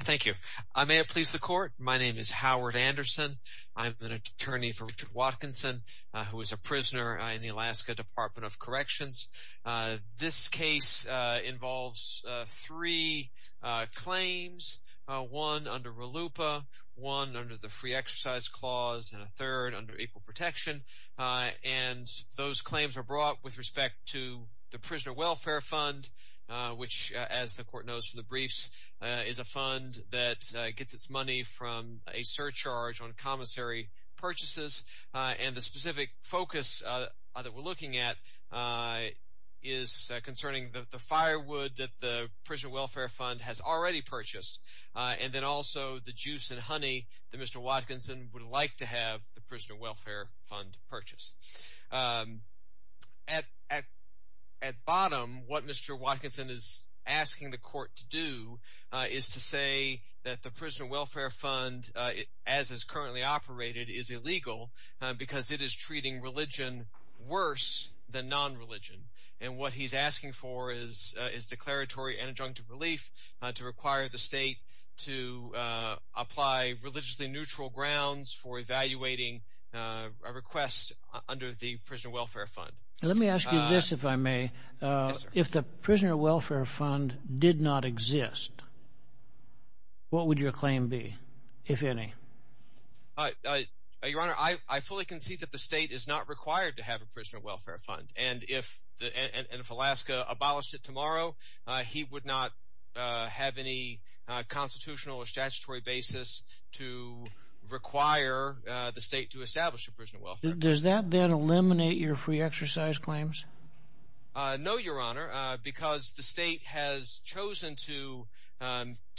Thank you. May it please the court. My name is Howard Anderson. I'm an attorney for Richard Watkinson, who is a prisoner in the Alaska Dep't of Corr. This case involves three claims, one under RLUPA, one under the Free Exercise Clause, and a third under Equal Protection. Those claims are brought with respect to the Prisoner Welfare Fund, which, as the court knows from the briefs, is a fund that gets its money from a surcharge on commissary purchases. And the specific focus that we're looking at is concerning the firewood that the Prisoner Welfare Fund has already purchased, and then also the juice and honey that Mr. Watkinson would like to have the Prisoner Welfare Fund purchase. At bottom, what Mr. Watkinson is asking the court to do is to say that the Prisoner Welfare Fund, as it is currently operated, is illegal because it is treating religion worse than non-religion. And what he's asking for is declaratory and adjunctive relief to require the state to apply religiously neutral grounds for evaluating a request under the Prisoner Welfare Fund. Let me ask you this, if I may. If the Prisoner Welfare Fund did not exist, what would your claim be, if any? Your Honor, I fully concede that the state is not required to have a Prisoner Welfare Fund, and if Alaska abolished it tomorrow, he would not have any constitutional or statutory basis to require the state to establish a Prisoner Welfare Fund. Does that then eliminate your free exercise claims? No, Your Honor, because the state has chosen to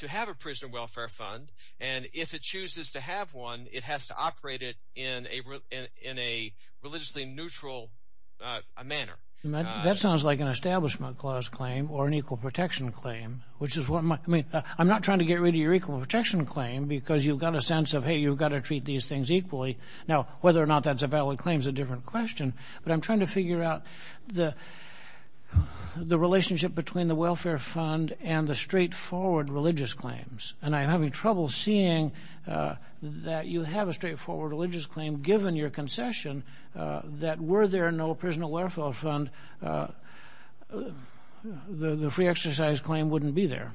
have a Prisoner Welfare Fund, and if it chooses to have one, it has to operate it in a religiously neutral manner. That sounds like an Establishment Clause claim or an Equal Protection claim. I'm not trying to get rid of your Equal Protection claim because you've got a sense of, hey, you've got to treat these things equally. Now, whether or not that's a valid claim is a different question, but I'm trying to figure out the relationship between the Welfare Fund and the straightforward religious claims. And I'm having trouble seeing that you have a straightforward religious claim, given your concession, that were there no Prisoner Welfare Fund, the free exercise claim wouldn't be there.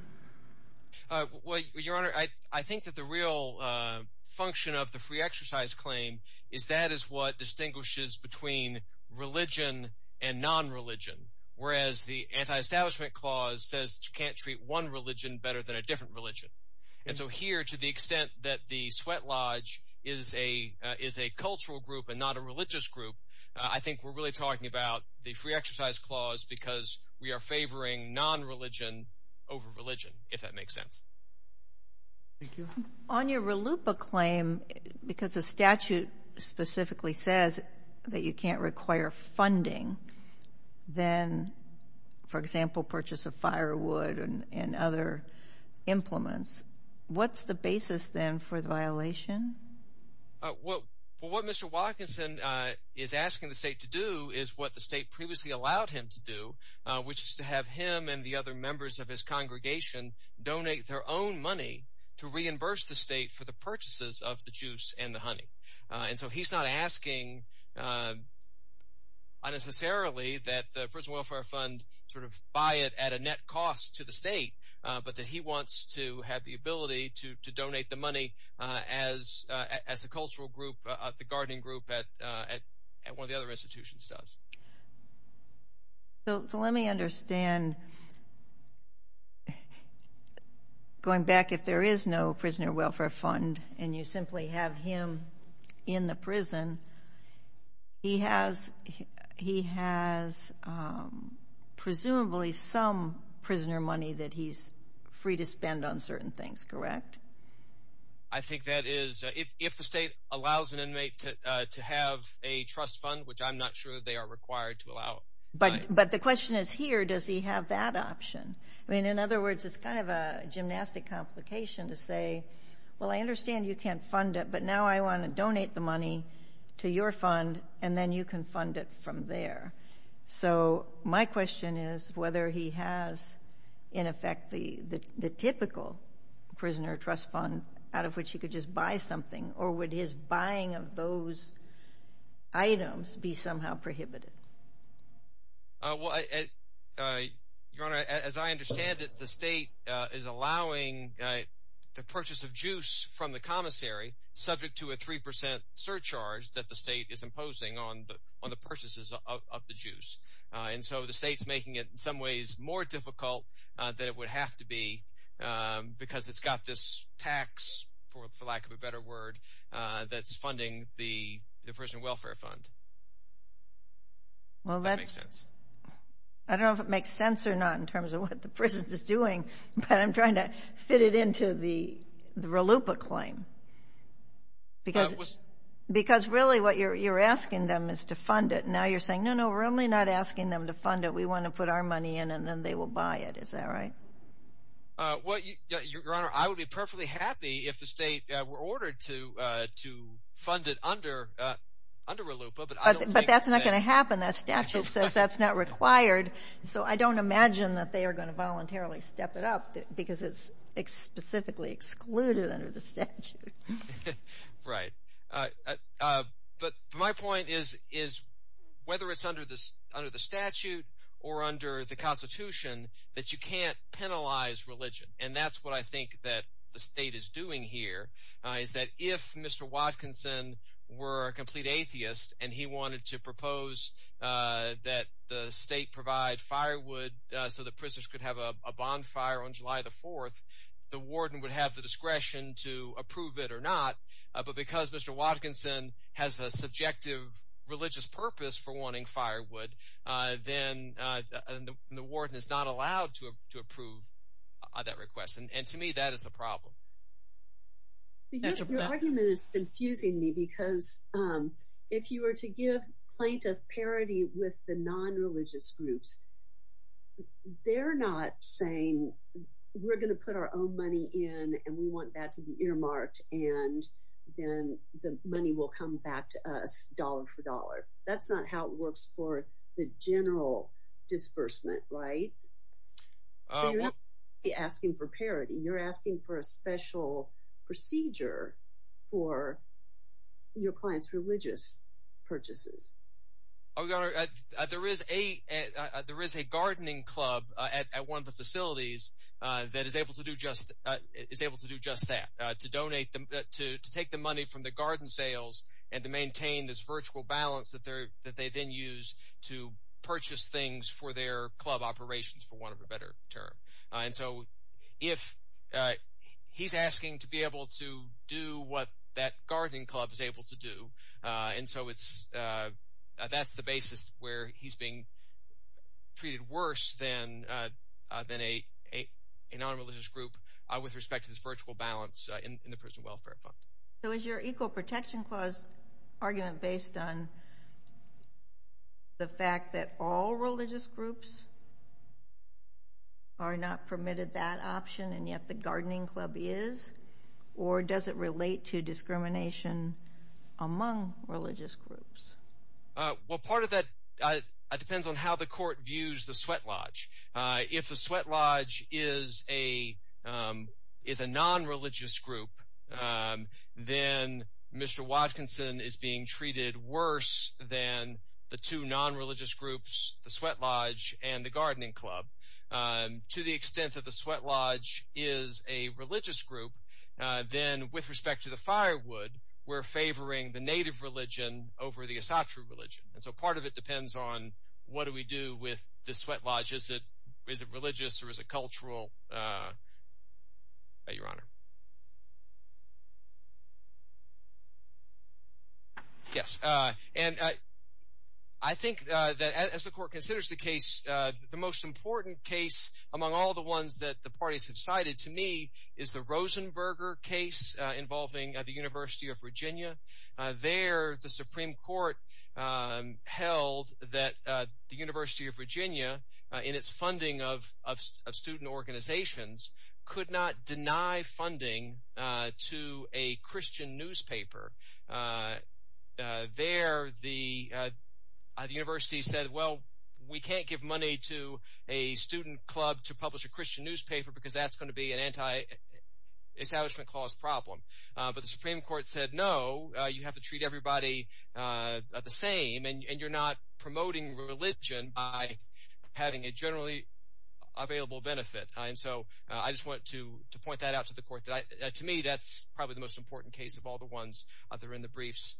Well, Your Honor, I think that the real function of the free exercise claim is that is what distinguishes between religion and non-religion, whereas the Anti-Establishment Clause says you can't treat one religion better than a different religion. And so here, to the extent that the sweat lodge is a cultural group and not a religious group, I think we're really talking about the free exercise clause because we are favoring non-religion over religion, if that makes sense. Thank you. On your RLUIPA claim, because the statute specifically says that you can't require funding than, for example, purchase of firewood and other implements, what's the basis then for the violation? Well, what Mr. Watkinson is asking the state to do is what the state previously allowed him to do, which is to have him and the other members of his congregation donate their own money to reimburse the state for the purchases of the juice and the honey. And so he's not asking unnecessarily that the Prisoner Welfare Fund sort of buy it at a net cost to the state, but that he wants to have the ability to donate the money as a cultural group, the gardening group at one of the other institutions does. So let me understand, going back, if there is no Prisoner Welfare Fund and you simply have him in the prison, he has presumably some prisoner money that he's free to spend on certain things, correct? I think that is, if the state allows an inmate to have a trust fund, which I'm not sure they are required to allow. But the question is here, does he have that option? I mean, in other words, it's kind of a gymnastic complication to say, well, I understand you can't fund it, but now I want to donate the money to your fund and then you can fund it from there. So my question is whether he has, in effect, the typical prisoner trust fund out of which he could just buy something, or would his buying of those items be somehow prohibited? Well, Your Honor, as I understand it, the state is allowing the purchase of juice from the commissary subject to a 3 percent surcharge that the state is imposing on the purchases of the juice. And so the state is making it, in some ways, more difficult than it would have to be because it's got this tax, for lack of a better word, that's funding the Prisoner Welfare Fund. Well, that makes sense. I don't know if it makes sense or not in terms of what the prison is doing, but I'm trying to fit it into the RLUIPA claim. Because really what you're asking them is to fund it. Now you're saying, no, no, we're only not asking them to fund it. We want to put our money in and then they will buy it. Is that right? Well, Your Honor, I would be perfectly happy if the state were ordered to fund it under RLUIPA, but I don't think that… Right. But my point is, whether it's under the statute or under the Constitution, that you can't penalize religion. And that's what I think that the state is doing here is that if Mr. Watkinson were a complete atheist and he wanted to propose that the state provide firewood so that prisoners could have a bonfire on July the 4th, the warden would have the discretion to approve it or not. But because Mr. Watkinson has a subjective religious purpose for wanting firewood, then the warden is not allowed to approve that request. And to me, that is the problem. Your argument is confusing me because if you were to give plaintiff parity with the non-religious groups, they're not saying we're going to put our own money in and we want that to be earmarked and then the money will come back to us dollar for dollar. That's not how it works for the general disbursement, right? So you're not asking for parity. You're asking for a special procedure for your client's religious purchases. There is a gardening club at one of the facilities that is able to do just that, to take the money from the garden sales and to maintain this virtual balance that they then use to purchase things for their club operations, for want of a better term. And so if he's asking to be able to do what that gardening club is able to do, and so that's the basis where he's being treated worse than a non-religious group with respect to this virtual balance in the prison welfare fund. So is your Equal Protection Clause argument based on the fact that all religious groups are not permitted that option and yet the gardening club is? Or does it relate to discrimination among religious groups? Well, part of that depends on how the court views the sweat lodge. If the sweat lodge is a non-religious group, then Mr. Watkinson is being treated worse than the two non-religious groups, the sweat lodge and the gardening club. To the extent that the sweat lodge is a religious group, then with respect to the firewood, we're favoring the native religion over the esoteric religion. And so part of it depends on what do we do with the sweat lodge. Is it religious or is it cultural? Your Honor. Yes. And I think that as the court considers the case, the most important case among all the ones that the parties have cited to me is the Rosenberger case involving the University of Virginia. There the Supreme Court held that the University of Virginia in its funding of student organizations could not deny funding to a Christian newspaper. There the university said, well, we can't give money to a student club to publish a Christian newspaper because that's going to be an anti-establishment clause problem. But the Supreme Court said, no, you have to treat everybody the same, and you're not promoting religion by having a generally available benefit. And so I just wanted to point that out to the court. To me, that's probably the most important case of all the ones that are in the briefs.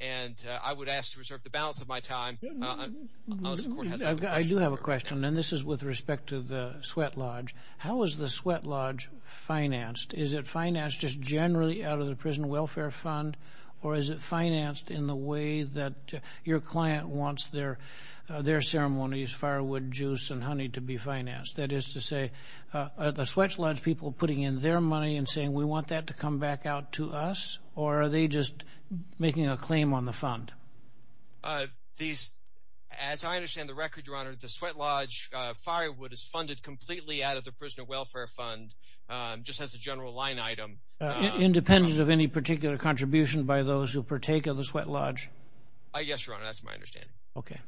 And I would ask to reserve the balance of my time. I do have a question, and this is with respect to the sweat lodge. How is the sweat lodge financed? Is it financed just generally out of the Prison Welfare Fund, or is it financed in the way that your client wants their ceremonies, firewood, juice, and honey to be financed? That is to say, are the sweat lodge people putting in their money and saying, we want that to come back out to us, or are they just making a claim on the fund? As I understand the record, Your Honor, the sweat lodge firewood is funded completely out of the Prisoner Welfare Fund just as a general line item. Independent of any particular contribution by those who partake of the sweat lodge? Yes, Your Honor. That's my understanding. Okay.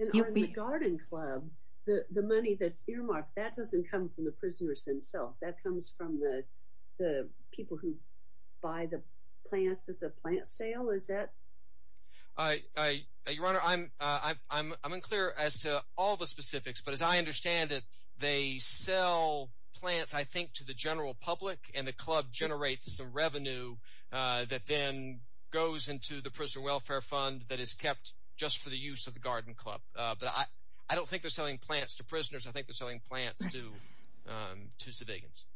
And on the garden club, the money that's earmarked, that doesn't come from the prisoners themselves. That comes from the people who buy the plants at the plant sale. Is that – Your Honor, I'm unclear as to all the specifics, but as I understand it, they sell plants, I think, to the general public, and the club generates some revenue that then goes into the Prisoner Welfare Fund that is kept just for the use of the garden club. But I don't think they're selling plants to prisoners. I think they're selling plants to civilians.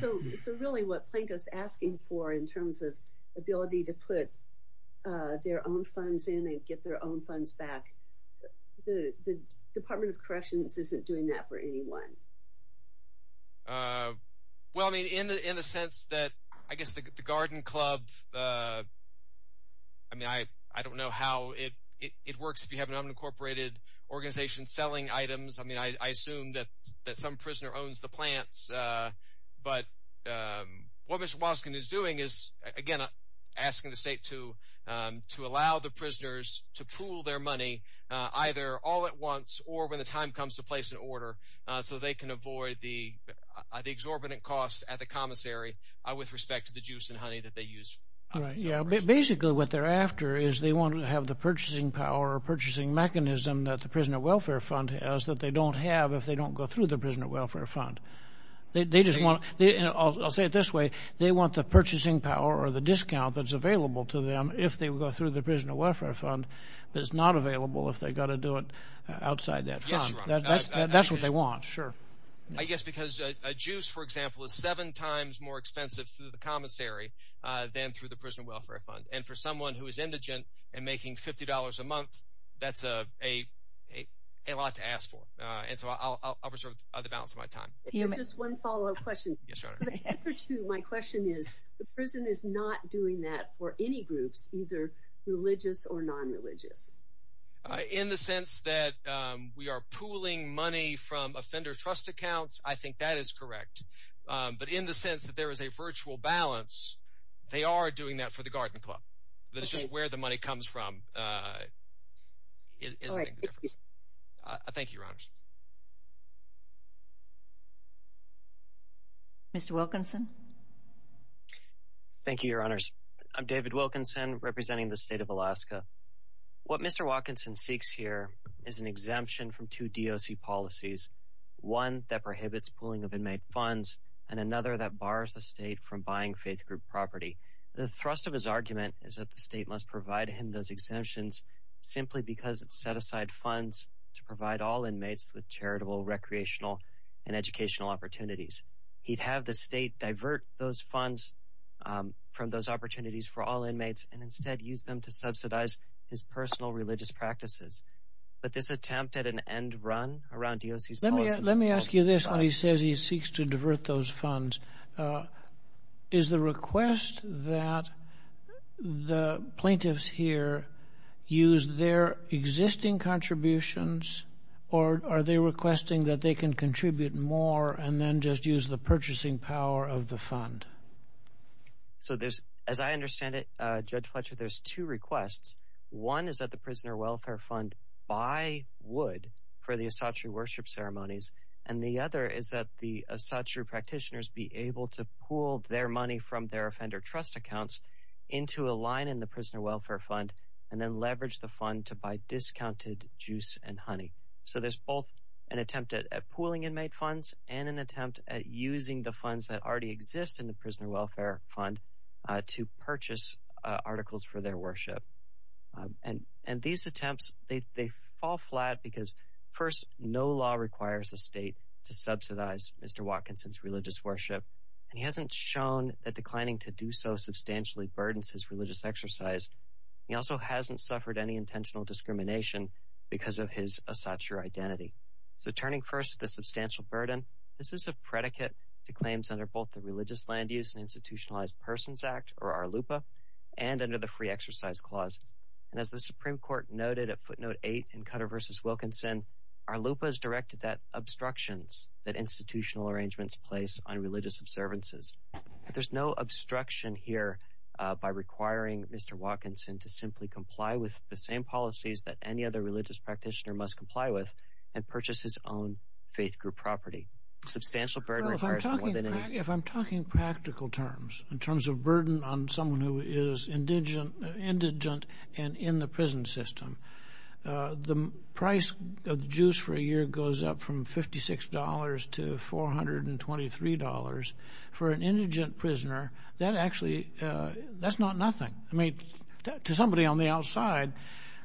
So really what Planko is asking for in terms of ability to put their own funds in and get their own funds back, the Department of Corrections isn't doing that for anyone. Well, I mean in the sense that I guess the garden club – I mean I don't know how it works if you have an unincorporated organization selling items. I mean I assume that some prisoner owns the plants, but what Mr. Waskin is doing is again asking the state to allow the prisoners to pool their money either all at once or when the time comes to place an order so they can avoid the exorbitant costs at the commissary with respect to the juice and honey that they use. Basically what they're after is they want to have the purchasing power or purchasing mechanism that the Prisoner Welfare Fund has that they don't have if they don't go through the Prisoner Welfare Fund. They just want – I'll say it this way. They want the purchasing power or the discount that's available to them if they go through the Prisoner Welfare Fund, but it's not available if they've got to do it outside that fund. That's what they want, sure. I guess because a juice for example is seven times more expensive through the commissary than through the Prisoner Welfare Fund, and for someone who is indigent and making $50 a month, that's a lot to ask for. And so I'll reserve the balance of my time. Just one follow-up question. Yes, Your Honor. My question is the prison is not doing that for any groups, either religious or non-religious. In the sense that we are pooling money from offender trust accounts, I think that is correct. But in the sense that there is a virtual balance, they are doing that for the Garden Club. It's just where the money comes from isn't making a difference. Thank you, Your Honors. Mr. Wilkinson. Thank you, Your Honors. I'm David Wilkinson representing the state of Alaska. What Mr. Wilkinson seeks here is an exemption from two DOC policies, one that prohibits pooling of inmate funds and another that bars the state from buying faith group property. The thrust of his argument is that the state must provide him those exemptions simply because it set aside funds to provide all inmates with charitable, recreational, and educational opportunities. He'd have the state divert those funds from those opportunities for all inmates and instead use them to subsidize his personal religious practices. But this attempt at an end run around DOC's policies… Let me ask you this when he says he seeks to divert those funds. Is the request that the plaintiffs here use their existing contributions or are they requesting that they can contribute more and then just use the purchasing power of the fund? So, as I understand it, Judge Fletcher, there's two requests. One is that the Prisoner Welfare Fund buy wood for the Asatru worship ceremonies. And the other is that the Asatru practitioners be able to pool their money from their offender trust accounts into a line in the Prisoner Welfare Fund and then leverage the fund to buy discounted juice and honey. So there's both an attempt at pooling inmate funds and an attempt at using the funds that already exist in the Prisoner Welfare Fund to purchase articles for their worship. And these attempts, they fall flat because, first, no law requires the state to subsidize Mr. Watkinson's religious worship. And he hasn't shown that declining to do so substantially burdens his religious exercise. He also hasn't suffered any intentional discrimination because of his Asatru identity. So turning first to the substantial burden, this is a predicate to claims under both the Religious Land Use and Institutionalized Persons Act, or ARLUPA, and under the Free Exercise Clause. And as the Supreme Court noted at footnote 8 in Cutter v. Wilkinson, ARLUPA is directed at obstructions that institutional arrangements place on religious observances. There's no obstruction here by requiring Mr. Watkinson to simply comply with the same policies that any other religious practitioner must comply with and purchase his own faith group property. Well, if I'm talking practical terms, in terms of burden on someone who is indigent and in the prison system, the price of the juice for a year goes up from $56 to $423. For an indigent prisoner, that actually, that's not nothing. I mean, to somebody on the outside,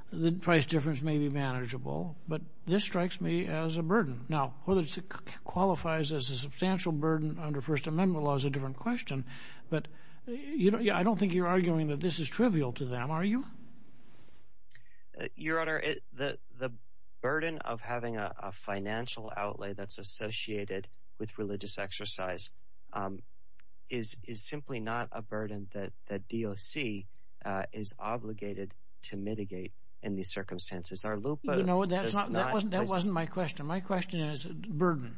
the price difference may be manageable, but this strikes me as a burden. Now, whether it qualifies as a substantial burden under First Amendment law is a different question, but I don't think you're arguing that this is trivial to them, are you? Your Honor, the burden of having a financial outlay that's associated with religious exercise is simply not a burden that DOC is obligated to mitigate in these circumstances. That wasn't my question. My question is burden,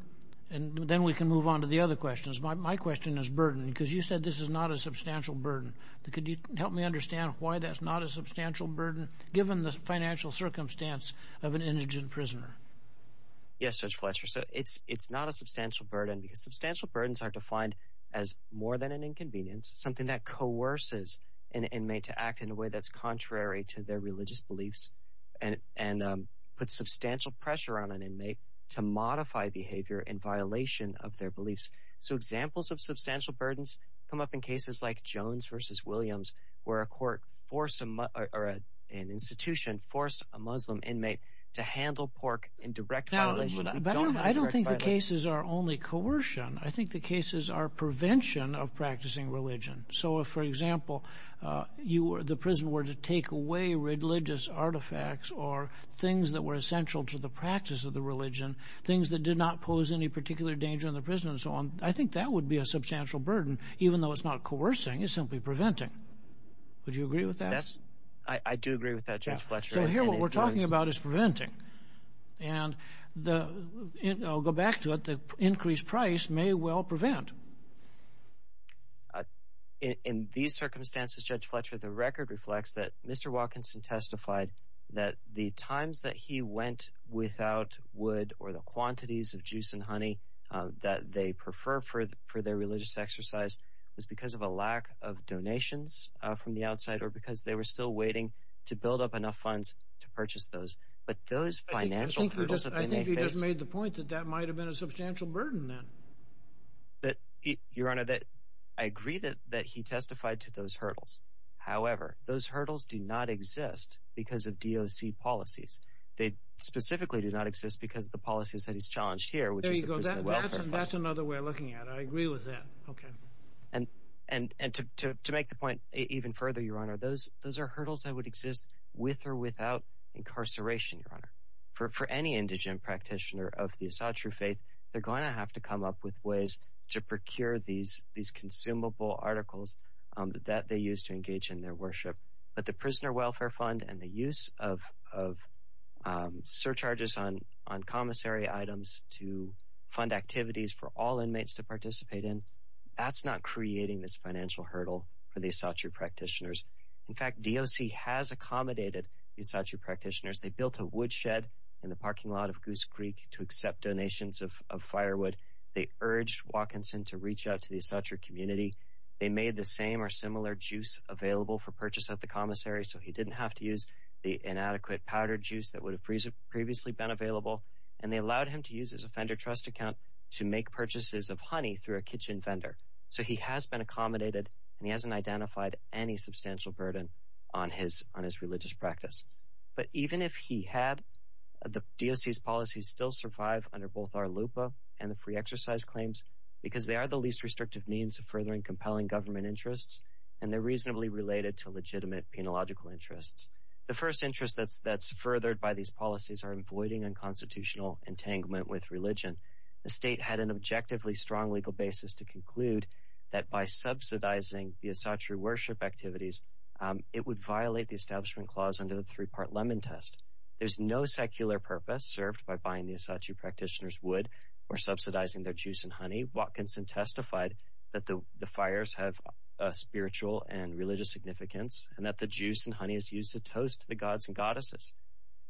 and then we can move on to the other questions. My question is burden, because you said this is not a substantial burden. Could you help me understand why that's not a substantial burden, given the financial circumstance of an indigent prisoner? Yes, Judge Fletcher. It's not a substantial burden because substantial burdens are defined as more than an inconvenience, something that coerces an inmate to act in a way that's contrary to their religious beliefs. And puts substantial pressure on an inmate to modify behavior in violation of their beliefs. So examples of substantial burdens come up in cases like Jones v. Williams, where an institution forced a Muslim inmate to handle pork in direct violation. But I don't think the cases are only coercion. I think the cases are prevention of practicing religion. So if, for example, the prison were to take away religious artifacts or things that were essential to the practice of the religion, things that did not pose any particular danger in the prison and so on, I think that would be a substantial burden, even though it's not coercing, it's simply preventing. Would you agree with that? Yes, I do agree with that, Judge Fletcher. So here what we're talking about is preventing. And I'll go back to it. The increased price may well prevent. In these circumstances, Judge Fletcher, the record reflects that Mr. Watkinson testified that the times that he went without wood or the quantities of juice and honey that they prefer for their religious exercise was because of a lack of donations from the outside or because they were still waiting to build up enough funds to purchase those. I think you just made the point that that might have been a substantial burden then. Your Honor, I agree that he testified to those hurdles. However, those hurdles do not exist because of DOC policies. They specifically do not exist because of the policies that he's challenged here, which is the prison welfare policy. There you go. That's another way of looking at it. I agree with that. Okay. And to make the point even further, Your Honor, those are hurdles that would exist with or without incarceration, Your Honor. For any indigent practitioner of the Asatru faith, they're going to have to come up with ways to procure these consumable articles that they use to engage in their worship. But the prisoner welfare fund and the use of surcharges on commissary items to fund activities for all inmates to participate in, that's not creating this financial hurdle for the Asatru practitioners. In fact, DOC has accommodated the Asatru practitioners. They built a woodshed in the parking lot of Goose Creek to accept donations of firewood. They urged Watkinson to reach out to the Asatru community. They made the same or similar juice available for purchase at the commissary so he didn't have to use the inadequate powdered juice that would have previously been available. And they allowed him to use his offender trust account to make purchases of honey through a kitchen vendor. So he has been accommodated and he hasn't identified any substantial burden on his religious practice. But even if he had, the DOC's policies still survive under both our LUPA and the Free Exercise Claims because they are the least restrictive means of furthering compelling government interests and they're reasonably related to legitimate penological interests. The first interest that's furthered by these policies are avoiding unconstitutional entanglement with religion. The state had an objectively strong legal basis to conclude that by subsidizing the Asatru worship activities, it would violate the Establishment Clause under the three-part Lemon Test. There's no secular purpose served by buying the Asatru practitioners wood or subsidizing their juice and honey. Watkinson testified that the fires have a spiritual and religious significance and that the juice and honey is used to toast the gods and goddesses.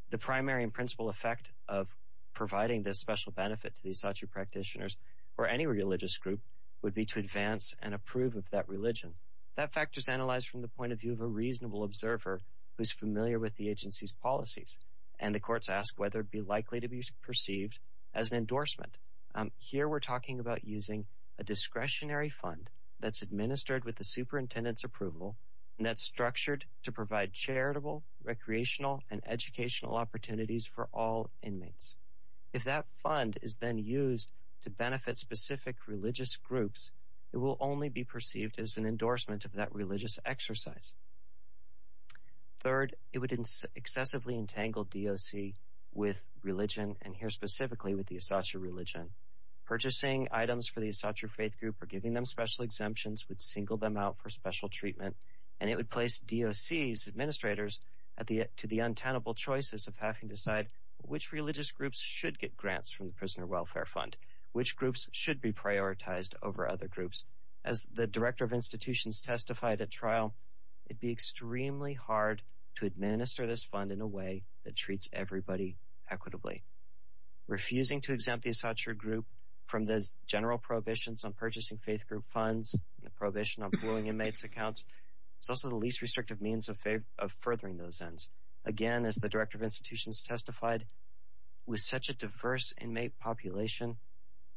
The primary and principal effect of providing this special benefit to the Asatru practitioners or any religious group would be to advance and approve of that religion. That fact is analyzed from the point of view of a reasonable observer who's familiar with the agency's policies. And the courts ask whether it would be likely to be perceived as an endorsement. Here we're talking about using a discretionary fund that's administered with the superintendent's approval and that's structured to provide charitable, recreational, and educational opportunities for all inmates. If that fund is then used to benefit specific religious groups, it will only be perceived as an endorsement of that religious exercise. Third, it would excessively entangle DOC with religion, and here specifically with the Asatru religion. Purchasing items for the Asatru faith group or giving them special exemptions would single them out for special treatment, and it would place DOC's administrators to the untenable choices of having to decide which religious groups should get grants from the Prisoner Welfare Fund, which groups should be prioritized over other groups. As the director of institutions testified at trial, it would be extremely hard to administer this fund in a way that treats everybody equitably. Refusing to exempt the Asatru group from those general prohibitions on purchasing faith group funds, the prohibition on pooling inmates' accounts, is also the least restrictive means of furthering those ends. Again, as the director of institutions testified, with such a diverse inmate population,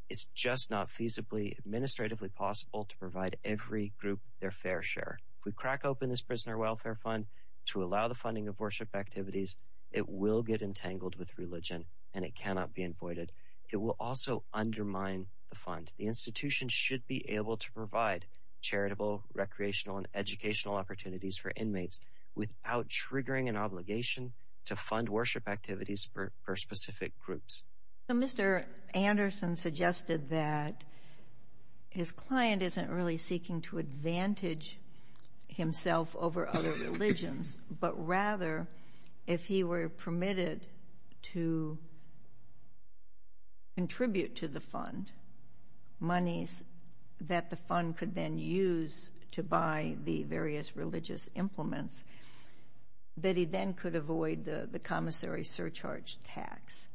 it's just not feasibly administratively possible to provide every group their fair share. If we crack open this Prisoner Welfare Fund to allow the funding of worship activities, it will get entangled with religion and it cannot be avoided. It will also undermine the fund. The institution should be able to provide charitable, recreational, and educational opportunities for inmates without triggering an obligation to fund worship activities for specific groups. Mr. Anderson suggested that his client isn't really seeking to advantage himself over other religions, but rather, if he were permitted to contribute to the fund, monies that the fund could then use to buy the various religious implements, that he then could avoid the commissary surcharge tax.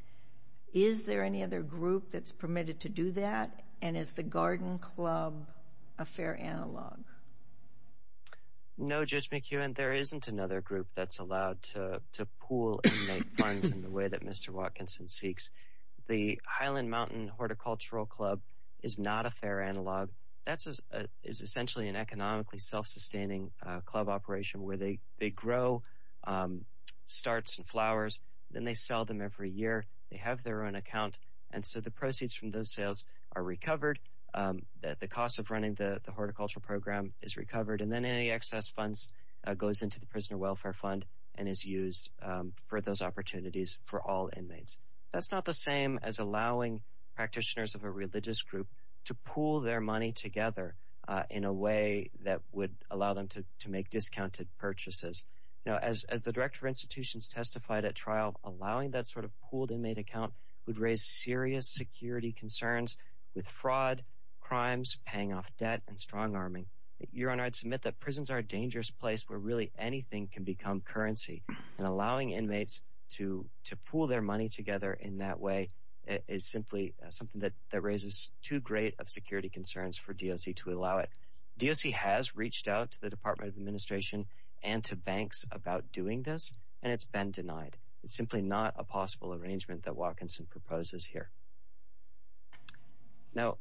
Is there any other group that's permitted to do that, and is the Garden Club a fair analog? No, Judge McEwen, there isn't another group that's allowed to pool inmate funds in the way that Mr. Watkinson seeks. The Highland Mountain Horticultural Club is not a fair analog. That is essentially an economically self-sustaining club operation where they grow starts and flowers, then they sell them every year, they have their own account, and so the proceeds from those sales are recovered, the cost of running the horticultural program is recovered, and then any excess funds goes into the Prisoner Welfare Fund and is used for those opportunities for all inmates. That's not the same as allowing practitioners of a religious group to pool their money together in a way that would allow them to make discounted purchases. As the Director of Institutions testified at trial, allowing that sort of pooled inmate account would raise serious security concerns with fraud, crimes, paying off debt, and strong-arming. Your Honor, I'd submit that prisons are a dangerous place where really anything can become currency, and allowing inmates to pool their money together in that way is simply something that raises too great of security concerns for DOC to allow it. DOC has reached out to the Department of Administration and to banks about doing this, and it's been denied. It's simply not a possible arrangement that Watkinson proposes here. Now,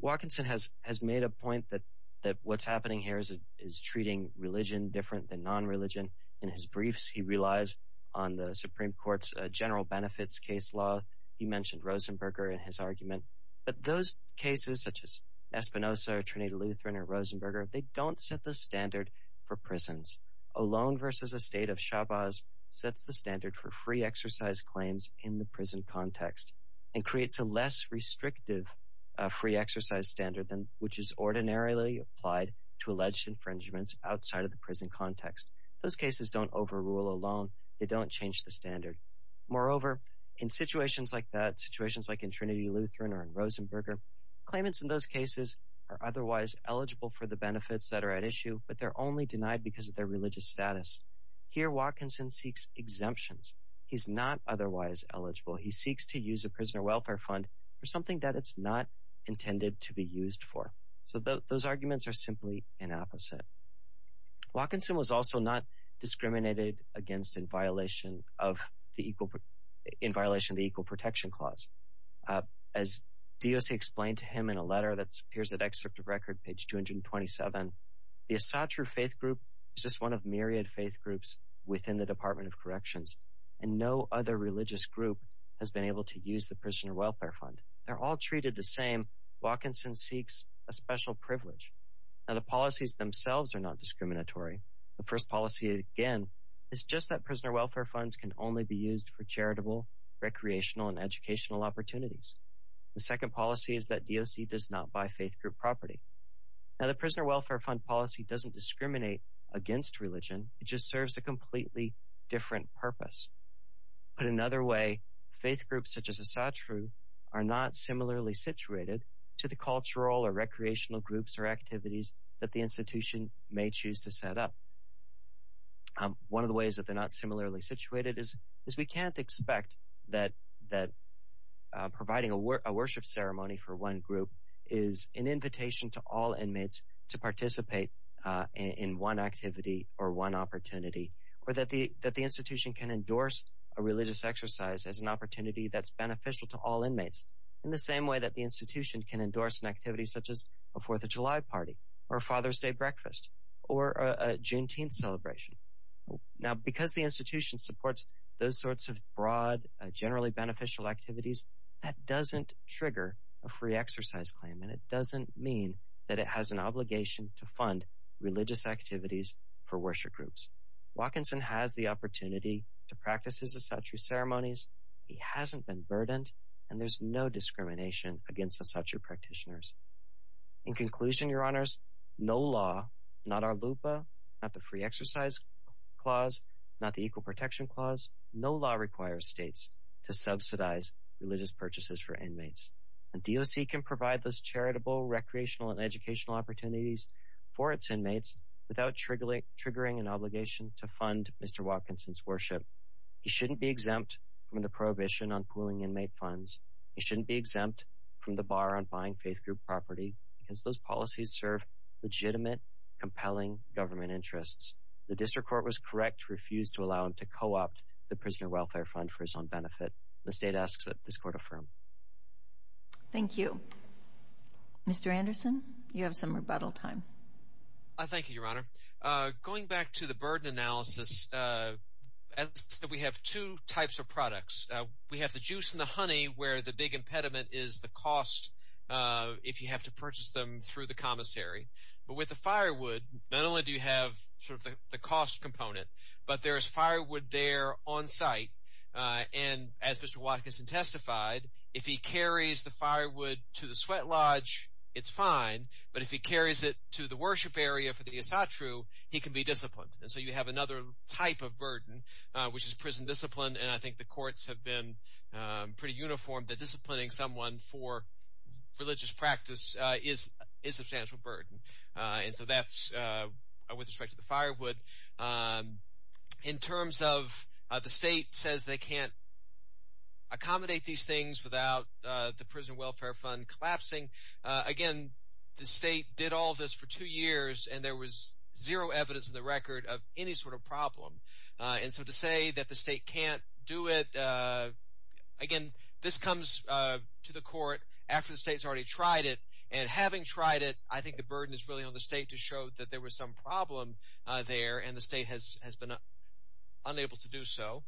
Watkinson has made a point that what's happening here is treating religion different than non-religion. In his briefs, he relies on the Supreme Court's general benefits case law. He mentioned Rosenberger in his argument, but those cases such as Espinosa, Trinidad-Lutheran, or Rosenberger, they don't set the standard for prisons. Olón versus a state of Chávez sets the standard for free-exercise claims in the prison context and creates a less restrictive free-exercise standard, which is ordinarily applied to alleged infringements outside of the prison context. Those cases don't overrule Olón. They don't change the standard. Moreover, in situations like that, situations like in Trinidad-Lutheran or in Rosenberger, claimants in those cases are otherwise eligible for the benefits that are at issue, but they're only denied because of their religious status. Here, Watkinson seeks exemptions. He's not otherwise eligible. He seeks to use a prisoner welfare fund for something that it's not intended to be used for. So those arguments are simply an opposite. Watkinson was also not discriminated against in violation of the Equal Protection Clause. As DOC explained to him in a letter that appears in Excerpt of Record, page 227, the Asatru Faith Group is just one of myriad faith groups within the Department of Corrections, and no other religious group has been able to use the prisoner welfare fund. They're all treated the same. Watkinson seeks a special privilege. Now, the policies themselves are not discriminatory. The first policy, again, is just that prisoner welfare funds can only be used for charitable, recreational, and educational opportunities. The second policy is that DOC does not buy faith group property. Now, the prisoner welfare fund policy doesn't discriminate against religion. It just serves a completely different purpose. Put another way, faith groups such as Asatru are not similarly situated to the cultural or recreational groups or activities that the institution may choose to set up. One of the ways that they're not similarly situated is we can't expect that providing a worship ceremony for one group is an invitation to all inmates to participate in one activity or one opportunity, or that the institution can endorse a religious exercise as an opportunity that's beneficial to all inmates in the same way that the institution can endorse an activity such as a Fourth of July party or Father's Day breakfast or a Juneteenth celebration. Now, because the institution supports those sorts of broad, generally beneficial activities, that doesn't trigger a free exercise claim, and it doesn't mean that it has an obligation to fund religious activities for worship groups. Watkinson has the opportunity to practice his Asatru ceremonies. He hasn't been burdened, and there's no discrimination against Asatru practitioners. In conclusion, Your Honors, no law, not our LUPA, not the Free Exercise Clause, not the Equal Protection Clause, no law requires states to subsidize religious purchases for inmates. A DOC can provide those charitable, recreational, and educational opportunities for its inmates without triggering an obligation to fund Mr. Watkinson's worship. He shouldn't be exempt from the prohibition on pooling inmate funds. He shouldn't be exempt from the bar on buying faith group property because those policies serve legitimate, compelling government interests. The District Court was correct to refuse to allow him to co-opt the Prisoner Welfare Fund for his own benefit. This data asks that this court affirm. Thank you. Mr. Anderson, you have some rebuttal time. Thank you, Your Honor. Going back to the burden analysis, we have two types of products. We have the juice and the honey, where the big impediment is the cost, if you have to purchase them through the commissary. But with the firewood, not only do you have sort of the cost component, but there is firewood there on site. And as Mr. Watkinson testified, if he carries the firewood to the sweat lodge, it's fine. But if he carries it to the worship area for the esatru, he can be disciplined. And so you have another type of burden, which is prison discipline. And I think the courts have been pretty uniform that disciplining someone for religious practice is a substantial burden. And so that's with respect to the firewood. In terms of the state says they can't accommodate these things without the Prison Welfare Fund collapsing, again, the state did all this for two years, and there was zero evidence in the record of any sort of problem. And so to say that the state can't do it, again, this comes to the court after the state has already tried it. And having tried it, I think the burden is really on the state to show that there was some problem there, and the state has been unable to do so.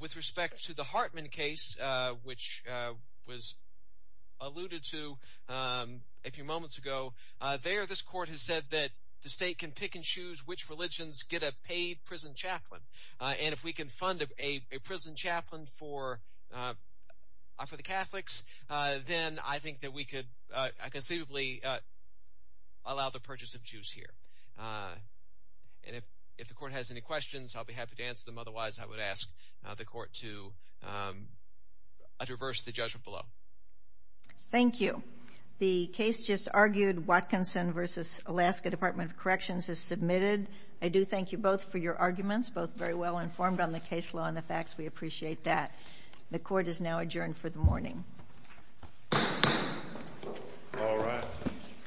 With respect to the Hartman case, which was alluded to a few moments ago, there this court has said that the state can pick and choose which religions get a paid prison chaplain. And if we can fund a prison chaplain for the Catholics, then I think that we could conceivably allow the purchase of Jews here. And if the court has any questions, I'll be happy to answer them. Otherwise, I would ask the court to adverse the judgment below. Thank you. The case just argued, Watkinson v. Alaska Department of Corrections has submitted. I do thank you both for your arguments, both very well informed on the case law and the facts. We appreciate that. The court is now adjourned for the morning.